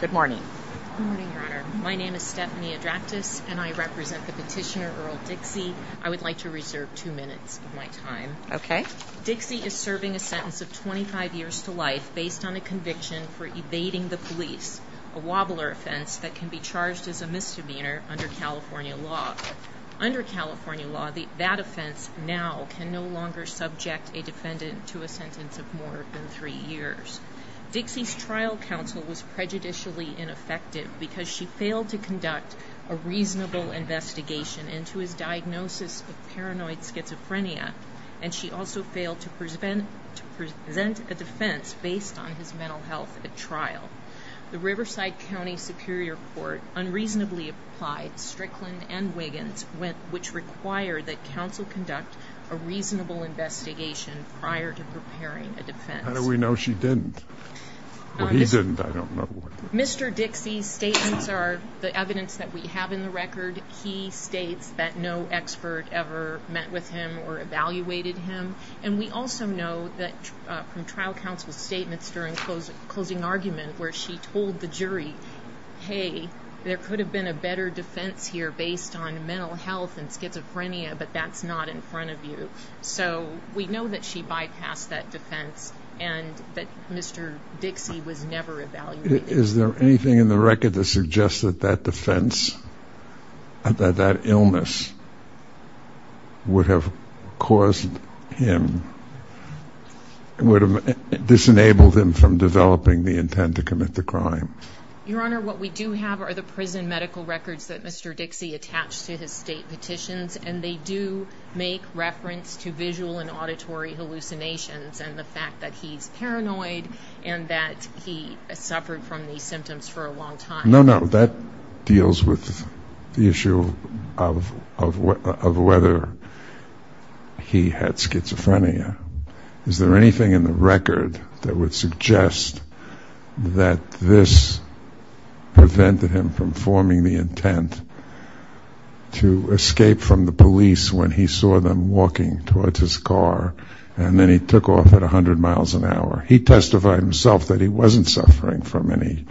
Good morning. My name is Stephanie Adractis and I represent the petitioner Earl Dixie I would like to reserve two minutes of my time Okay Dixie is serving a sentence of 25 years to life based on a conviction for evading the police a Wobbler offense that can be charged as a misdemeanor under California law Under California law the that offense now can no longer subject a defendant to a sentence of more than three years Dixie's trial counsel was prejudicially ineffective because she failed to conduct a reasonable investigation into his diagnosis of paranoid schizophrenia And she also failed to present to present a defense based on his mental health at trial the Riverside County Superior Court unreasonably applied Strickland and Wiggins went which required that counsel conduct a reasonable investigation prior to preparing a defense How do we know she didn't? Mr. Dixie's statements are the evidence that we have in the record He states that no expert ever met with him or evaluated him And we also know that from trial counsel's statements during closing argument where she told the jury Hey, there could have been a better defense here based on mental health and schizophrenia, but that's not in front of you So we know that she bypassed that defense and that mr. Dixie was never Is there anything in the record that suggests that that defense? that that illness Would have caused him Would have disenabled him from developing the intent to commit the crime your honor What we do have are the prison medical records that mr. Dixie attached to his state petitions and they do make reference to visual and auditory Hallucinations and the fact that he's paranoid and that he suffered from these symptoms for a long time No, no that deals with the issue of whether He had schizophrenia. Is there anything in the record that would suggest that this? Prevented him from forming the intent To escape from the police when he saw them walking towards his car And then he took off at a hundred miles an hour He testified himself that he wasn't suffering from any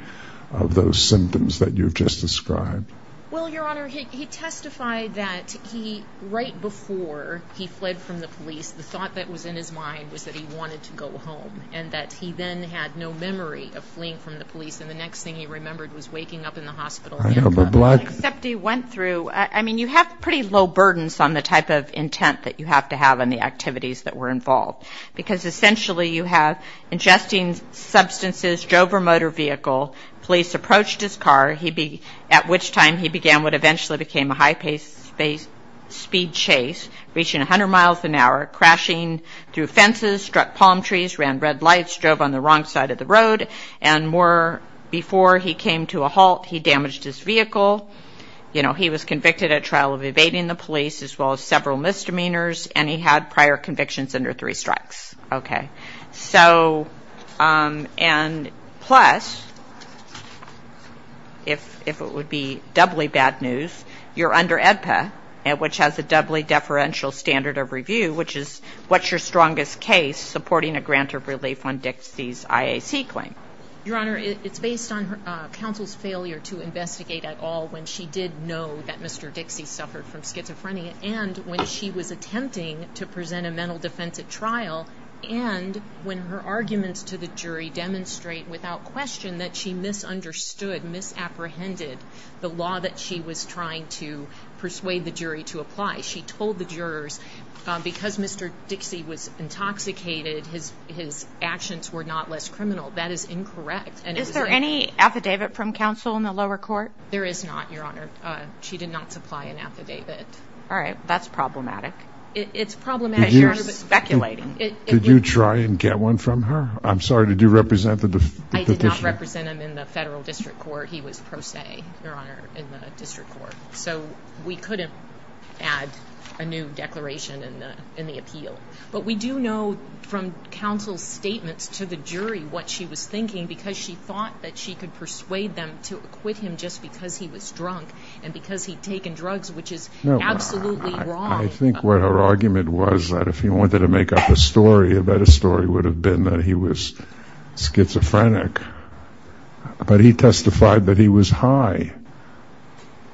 of those symptoms that you've just described Well, your honor he testified that he right before he fled from the police The thought that was in his mind was that he wanted to go home and that he then had no memory of fleeing from The police and the next thing he remembered was waking up in the hospital I don't know blood except he went through I mean you have pretty low burdens on the type of Intent that you have to have in the activities that were involved because essentially you have ingesting Substances drove a motor vehicle police approached his car. He be at which time he began what eventually became a high pace speed chase reaching a hundred miles an hour crashing through fences struck palm trees ran red lights drove on the wrong side of the Before he came to a halt he damaged his vehicle You know, he was convicted at trial of evading the police as well as several misdemeanors and he had prior convictions under three strikes okay, so and plus If if it would be doubly bad news You're under EDPA at which has a doubly deferential standard of review Which is what's your strongest case supporting a grant of relief on Dixie's IAC claim? Your honor. It's based on her counsel's failure to investigate at all when she did know that. Mr Dixie suffered from schizophrenia and when she was attempting to present a mental defense at trial and When her arguments to the jury demonstrate without question that she misunderstood Misapprehended the law that she was trying to persuade the jury to apply. She told the jurors Because mr. Dixie was intoxicated His his actions were not less criminal. That is incorrect. And is there any affidavit from counsel in the lower court? There is not your honor. She did not supply an affidavit. All right, that's problematic It's problematic. You're speculating. Did you try and get one from her? I'm sorry. Did you represent the Represent him in the federal district court. He was pro se your honor in the district court So we couldn't add a new declaration in the in the appeal But we do know from counsel's statements to the jury what she was thinking because she thought that she could persuade them to Acquit him just because he was drunk and because he'd taken drugs, which is Absolutely. I think what her argument was that if he wanted to make up a story about a story would have been that he was schizophrenic But he testified that he was high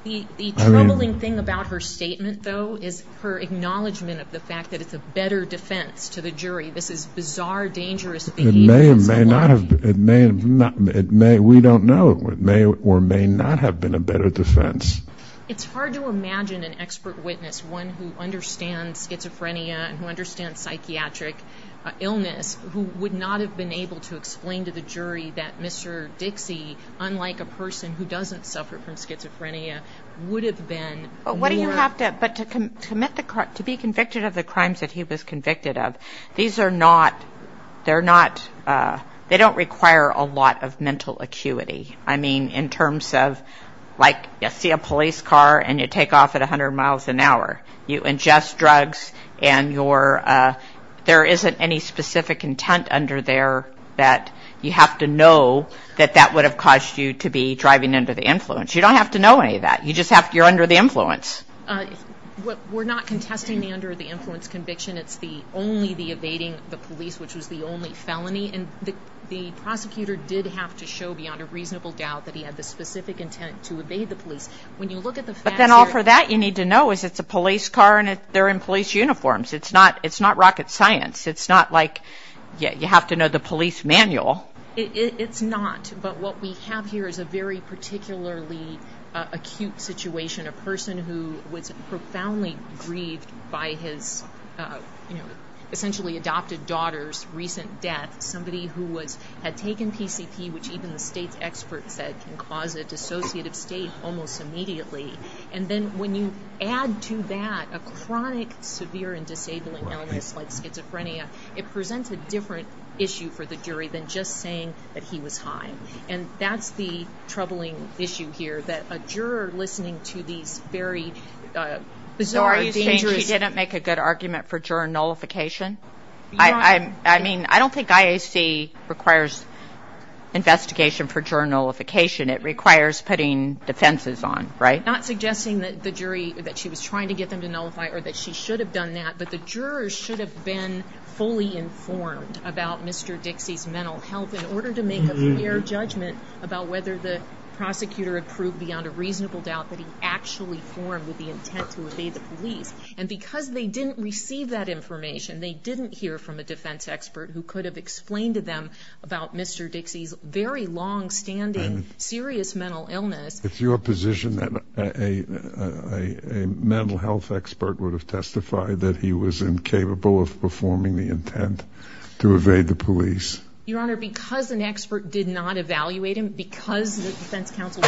He the troubling thing about her statement though is her acknowledgement of the fact that it's a better defense to the jury This is bizarre dangerous May not have it may not it may we don't know it may or may not have been a better defense It's hard to imagine an expert witness one who understands schizophrenia and who understands psychiatric Illness who would not have been able to explain to the jury that mr Dixie unlike a person who doesn't suffer from schizophrenia Would have been but what do you have to but to commit the car to be convicted of the crimes that he was convicted of These are not They're not They don't require a lot of mental acuity I mean in terms of like you see a police car and you take off at a hundred miles an hour you ingest drugs and you're There isn't any specific intent under there that you have to know That that would have caused you to be driving under the influence. You don't have to know any of that You just have to you're under the influence We're not contesting the under the influence conviction it's the only the evading the police which was the only felony and the Prosecutor did have to show beyond a reasonable doubt that he had the specific intent to evade the police When you look at the but then all for that you need to know is it's a police car and if they're in police uniforms It's not it's not rocket science. It's not like yeah, you have to know the police manual It's not but what we have here is a very particularly acute situation a person who was profoundly grieved by his Essentially adopted daughter's recent death somebody who was had taken PCP Which even the state's experts said can cause a dissociative state almost immediately And then when you add to that a chronic severe and disabling illness like schizophrenia it presents a different issue for the jury than just saying that he was high and that's the troubling issue here that a juror listening to these very Bizarre injuries didn't make a good argument for juror nullification. I I mean, I don't think IAC requires Investigation for journalification it requires putting defenses on right not suggesting that the jury that she was trying to get them to nullify or that She should have done that but the jurors should have been fully informed about mr Dixie's mental health in order to make a fair judgment about whether the Prosecutor approved beyond a reasonable doubt that he actually formed with the intent to evade the police and because they didn't receive that information They didn't hear from a defense expert who could have explained to them about mr. Dixie's very long-standing serious mental illness, it's your position that a Mental health expert would have testified that he was incapable of performing the intent to evade the police Your honor because an expert did not evaluate him because the defense counsel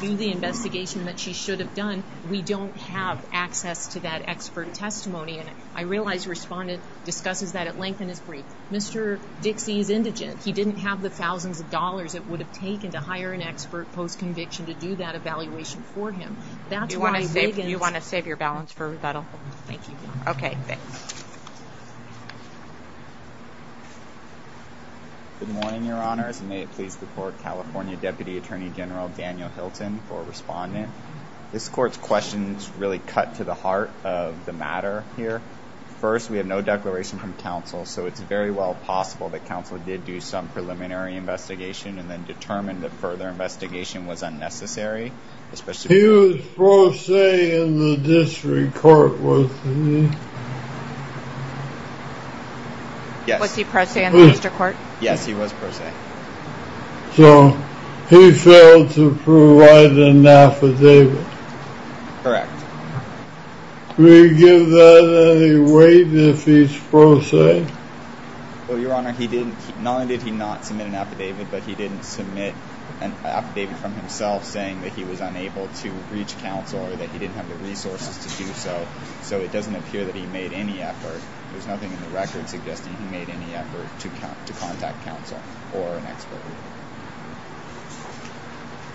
Do the investigation that she should have done we don't have access to that expert testimony And I realize respondent discusses that at length in his brief. Mr. Dixie's indigent He didn't have the thousands of dollars It would have taken to hire an expert post conviction to do that evaluation for him That's why I say you want to save your balance for rebuttal. Thank you. Okay Good morning, your honors and may it please the court, California Deputy Attorney General Daniel Hilton for respondent This court's questions really cut to the heart of the matter here first, we have no declaration from counsel So it's very well possible that counsel did do some preliminary investigation and then determined that further investigation was unnecessary Especially he was pro se in the district court, was he? Yes, was he pro se in the district court? Yes, he was pro se So he failed to provide an affidavit correct Will you give that any weight if he's pro se? Well, your honor. He didn't not only did he not submit an affidavit But he didn't submit an affidavit from himself saying that he was unable to reach counsel or that he didn't have the resources to do so So it doesn't appear that he made any effort There's nothing in the record suggesting he made any effort to contact counsel or an expert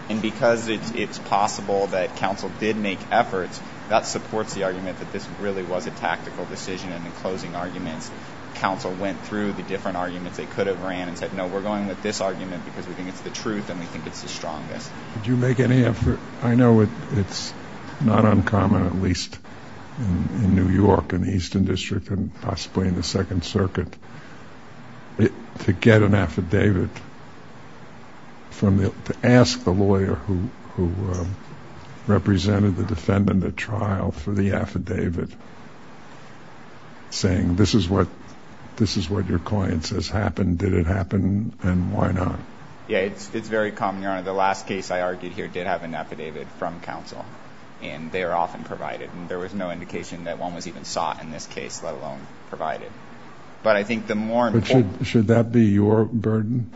And because it's possible that counsel did make efforts that supports the argument that this really was a tactical decision and the closing arguments Counsel went through the different arguments they could have ran and said no we're going with this argument because we think it's the truth And we think it's the strongest. Did you make any effort? I know it it's not uncommon at least In New York in the Eastern District and possibly in the Second Circuit It to get an affidavit From the to ask the lawyer who? Represented the defendant at trial for the affidavit Saying this is what this is what your client says happened. Did it happen and why not? Yeah, it's very common Your honor the last case I argued here did have an affidavit from counsel and they are often provided And there was no indication that one was even sought in this case let alone provided But I think the more should that be your burden?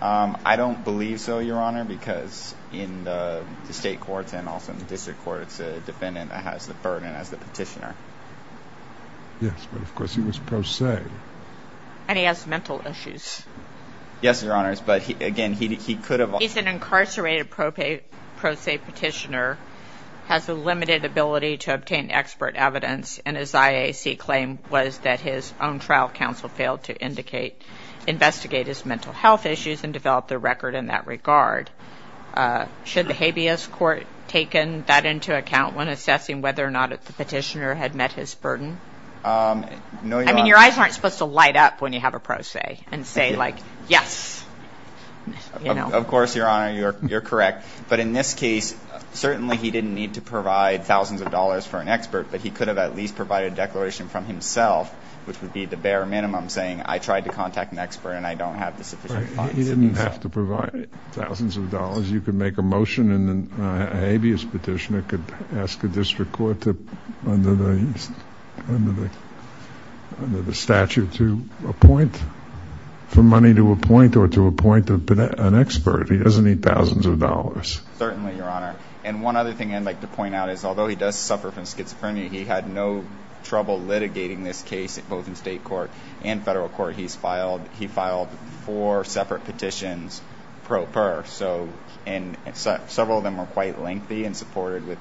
I don't believe so your honor because in the state courts and also in the district court It's a defendant that has the burden as the petitioner Yes, but of course he was pro se And he has mental issues Yes, your honors, but he again he could have he's an incarcerated propate pro se petitioner Has a limited ability to obtain expert evidence and his IAC claim was that his own trial counsel failed to indicate Investigate his mental health issues and develop the record in that regard Should the habeas court taken that into account when assessing whether or not if the petitioner had met his burden No, I mean your eyes aren't supposed to light up when you have a pro se and say like yes Of course your honor you're correct, but in this case certainly he didn't need to provide thousands of dollars for an expert But he could have at least provided a declaration from himself Which would be the bare minimum saying I tried to contact an expert and I don't have the sufficient You didn't have to provide thousands of dollars. You could make a motion and then a habeas petitioner could ask a district court Under the Statute to appoint For money to a point or to a point of an expert. He doesn't need thousands of dollars Certainly your honor and one other thing I'd like to point out is although he does suffer from schizophrenia He had no trouble litigating this case both in state court and federal court. He's filed. He filed four separate petitions Pro per so and Several of them were quite lengthy and supported with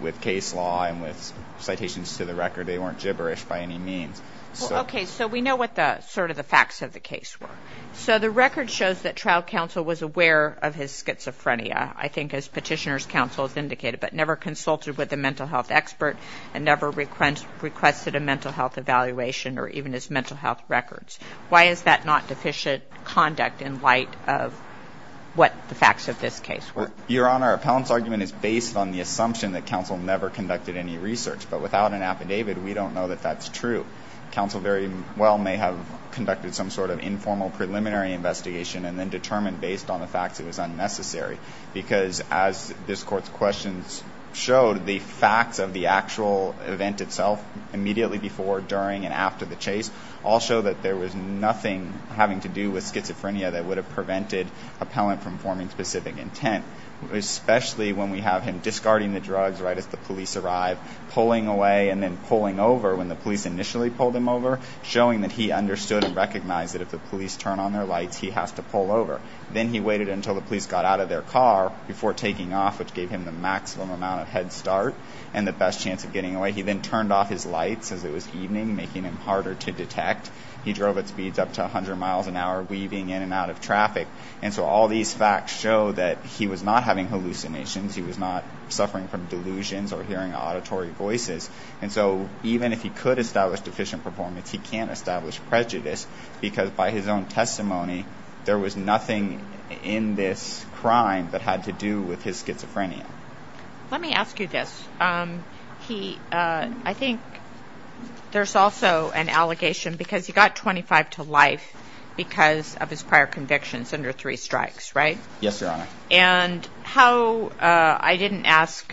with case law and with citations to the record. They weren't gibberish by any means Okay, so we know what the sort of the facts of the case were so the record shows that trial counsel was aware of his Schizophrenia, I think as petitioners counsel has indicated But never consulted with a mental health expert and never request requested a mental health evaluation or even his mental health records Why is that not deficient? Conduct in light of What the facts of this case were your honor appellant's argument is based on the assumption that counsel never conducted any research But without an affidavit, we don't know that that's true Counsel very well may have conducted some sort of informal preliminary investigation and then determined based on the facts It was unnecessary because as this court's questions showed the facts of the actual event itself Immediately before during and after the chase all show that there was nothing having to do with schizophrenia that would have prevented appellant from forming specific intent Especially when we have him discarding the drugs right as the police arrived Pulling away and then pulling over when the police initially pulled him over Showing that he understood and recognized that if the police turn on their lights He has to pull over then he waited until the police got out of their car before taking off which gave him the maximum Amount of head start and the best chance of getting away He then turned off his lights as it was evening making him harder to detect He drove at speeds up to a hundred miles an hour weaving in and out of traffic And so all these facts show that he was not having hallucinations He was not suffering from delusions or hearing auditory voices. And so even if he could establish deficient performance He can't establish prejudice because by his own testimony There was nothing in this crime that had to do with his schizophrenia Let me ask you this he I think There's also an allegation because he got 25 to life because of his prior convictions under three strikes, right? Yes, your honor and how I didn't ask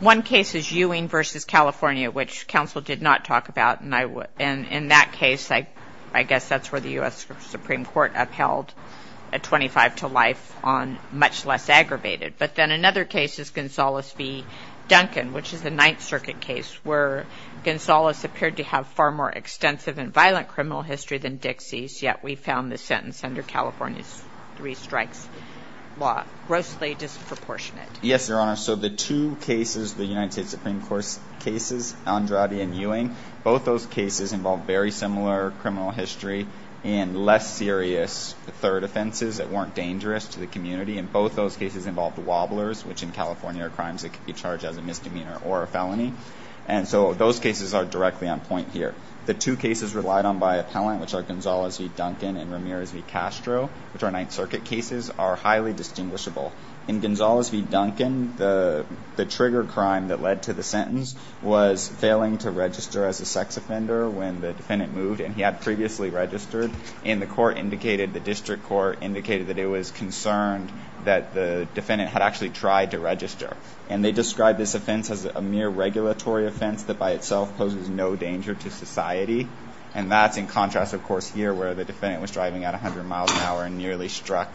One case is Ewing versus, California, which counsel did not talk about and I would and in that case I I guess that's where the US Supreme Court upheld a 25 to life on much less aggravated But then another case is Gonzales v Duncan, which is the Ninth Circuit case where? Gonzales appeared to have far more extensive and violent criminal history than Dixie's yet. We found the sentence under California's three strikes law grossly Disproportionate. Yes, your honor So the two cases the United States Supreme Court's cases Andrade and Ewing both those cases involved very similar Criminal history and less serious third offenses that weren't dangerous to the community in both those cases involved wobblers Which in California are crimes that could be charged as a misdemeanor or a felony And so those cases are directly on point here the two cases relied on by appellant Which are Gonzales v Duncan and Ramirez v Castro which are Ninth Circuit cases are highly distinguishable in Gonzales v Duncan the the trigger crime that led to the sentence was Failing to register as a sex offender when the defendant moved and he had previously registered in the court indicated the district court indicated that it was concerned that the Defendant had actually tried to register and they described this offense as a mere regulatory offense that by itself poses no danger to society And that's in contrast of course here where the defendant was driving at a hundred miles an hour and nearly struck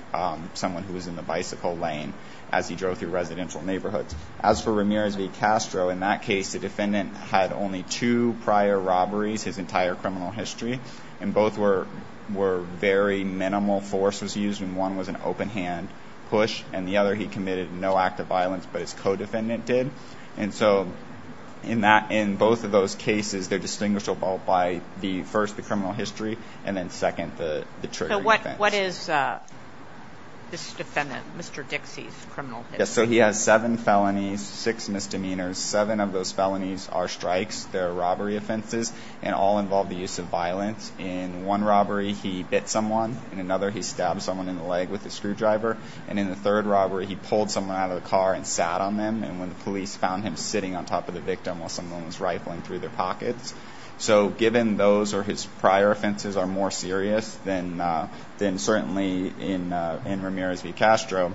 Someone who was in the bicycle lane as he drove through residential neighborhoods as for Ramirez v Castro in that case The defendant had only two prior robberies his entire criminal history and both were Were very minimal force was used and one was an open-hand push and the other he committed no act of violence But his co-defendant did and so in that in both of those cases They're distinguishable by the first the criminal history and then second the the trigger what what is? This defendant mr. Dixie's criminal So he has seven felonies six misdemeanors seven of those felonies are strikes They're robbery offenses and all involve the use of violence in one robbery He bit someone and another he stabbed someone in the leg with the screwdriver and in the third robbery He pulled someone out of the car and sat on them and when the police found him sitting on top of the victim while someone Was rifling through their pockets so given those or his prior offenses are more serious than Then certainly in in Ramirez v Castro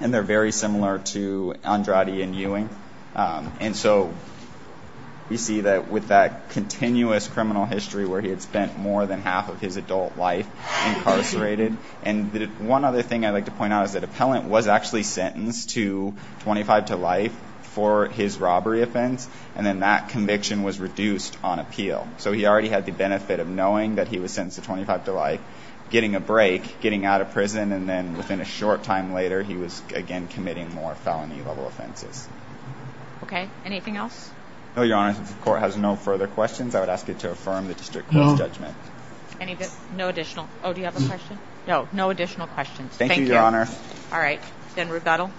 and they're very similar to Andrade and Ewing and so You see that with that continuous criminal history where he had spent more than half of his adult life incarcerated and the one other thing I'd like to point out is that appellant was actually sentenced to 25 to life for his robbery offense and then that conviction was reduced on appeal So he already had the benefit of knowing that he was sentenced to 25 to life Getting a break getting out of prison and then within a short time later. He was again committing more felony level offenses Okay, anything else? No, your honor. The court has no further questions. I would ask you to affirm the district no judgment No additional. Oh, do you have a question? No, no additional questions. Thank you, Your Honor. All right, then rebuttal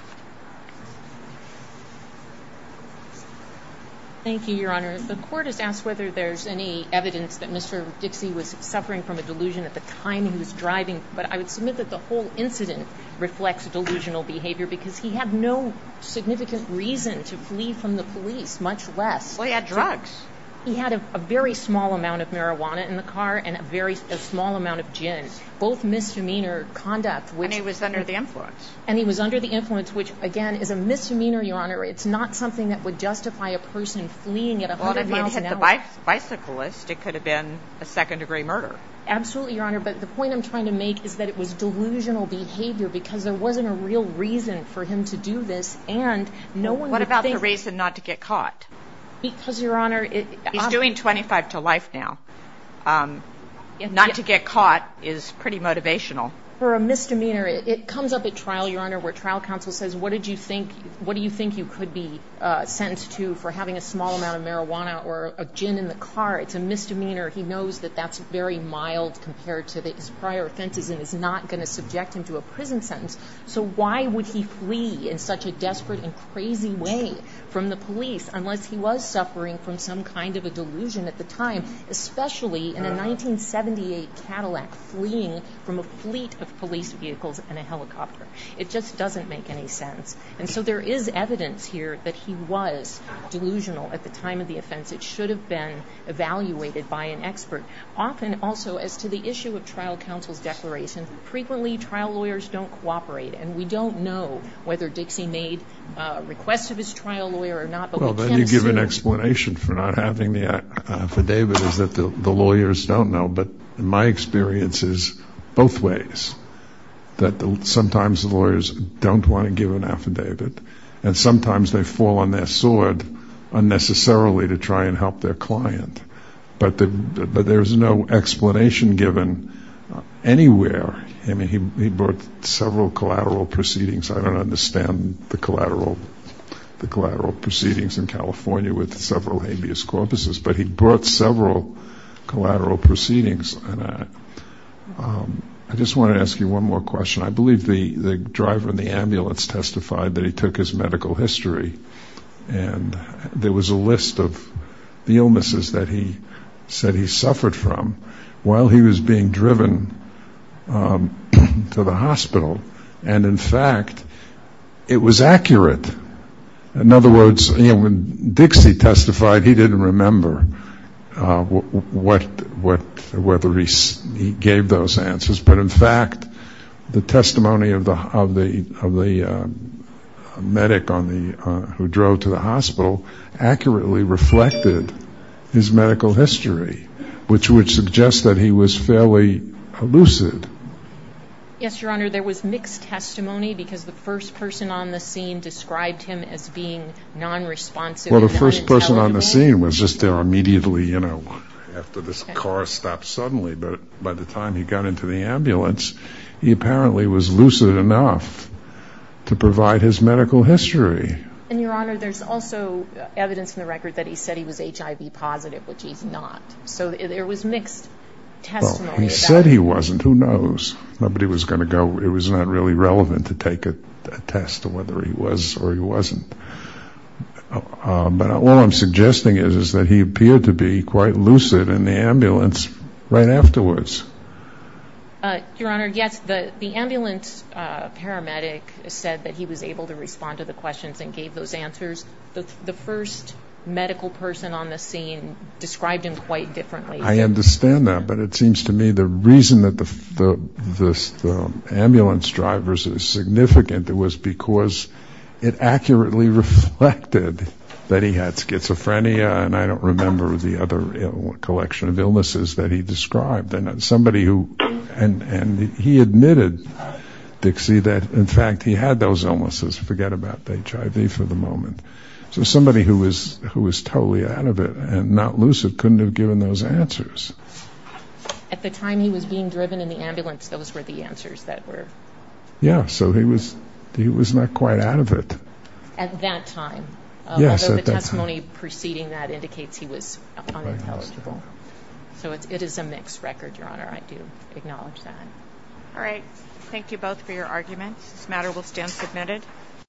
Thank you, Your Honor the court has asked whether there's any evidence that Mr. Dixie was suffering from a delusion at the time He was driving, but I would submit that the whole incident reflects delusional behavior because he had no Significant reason to flee from the police much less well. He had drugs He had a very small amount of marijuana in the car and a very small amount of gin both misdemeanor Conduct when he was under the influence and he was under the influence which again Is a misdemeanor your honor. It's not something that would justify a person fleeing at a lot of it hit the Bicyclist it could have been a second-degree murder. Absolutely, your honor but the point I'm trying to make is that it was delusional behavior because there wasn't a real reason for him to do this and No, what about the reason not to get caught? Because your honor it is doing 25 to life now Not to get caught is pretty motivational for a misdemeanor It comes up at trial your honor where trial counsel says, what did you think? What do you think you could be sentenced to for having a small amount of marijuana or a gin in the car? It's a misdemeanor He knows that that's very mild compared to the his prior offenses and is not going to subject him to a prison sentence So why would he flee in such a desperate and crazy way from the police? Unless he was suffering from some kind of a delusion at the time, especially in the 1978 Cadillac fleeing from a fleet of police vehicles and a helicopter It just doesn't make any sense. And so there is evidence here that he was Delusional at the time of the offense. It should have been Evaluated by an expert often also as to the issue of trial counsel's declaration Frequently trial lawyers don't cooperate and we don't know whether Dixie made Requests of his trial lawyer or not Explanation for not having the Affidavit is that the lawyers don't know but in my experience is both ways That sometimes the lawyers don't want to give an affidavit and sometimes they fall on their sword Unnecessarily to try and help their client, but the but there's no explanation given Anywhere, I mean he brought several collateral proceedings. I don't understand the collateral The collateral proceedings in California with several habeas corpuses, but he brought several collateral proceedings and I I just want to ask you one more question. I believe the the driver in the ambulance testified that he took his medical history and There was a list of the illnesses that he said he suffered from while he was being driven To the hospital and in fact It was accurate in other words, you know when Dixie testified he didn't remember What what whether he gave those answers, but in fact the testimony of the of the of the Medic on the who drove to the hospital Accurately reflected his medical history, which would suggest that he was fairly lucid Yes, your honor there was mixed testimony because the first person on the scene described him as being non-responsive Well, the first person on the scene was just there immediately, you know after this car stopped suddenly But by the time he got into the ambulance, he apparently was lucid enough To provide his medical history and your honor. There's also Evidence in the record that he said he was HIV positive, which he's not so there was mixed Said he wasn't who knows nobody was gonna go. It was not really relevant to take a test of whether he was or he wasn't But all I'm suggesting is is that he appeared to be quite lucid in the ambulance right afterwards Your honor. Yes the the ambulance Paramedic said that he was able to respond to the questions and gave those answers the first Medical person on the scene described him quite differently. I understand that but it seems to me the reason that the this Ambulance drivers is significant. It was because it accurately reflected That he had schizophrenia and I don't remember the other Collection of illnesses that he described and somebody who and and he admitted Dixie that in fact he had those illnesses forget about the HIV for the moment So somebody who was who was totally out of it and not lucid couldn't have given those answers At the time he was being driven in the ambulance. Those were the answers that were Yeah, so he was he was not quite out of it at that time Yes, the testimony preceding that indicates he was Intelligible, so it is a mixed record your honor. I do acknowledge that All right. Thank you both for your arguments this matter will stand submitted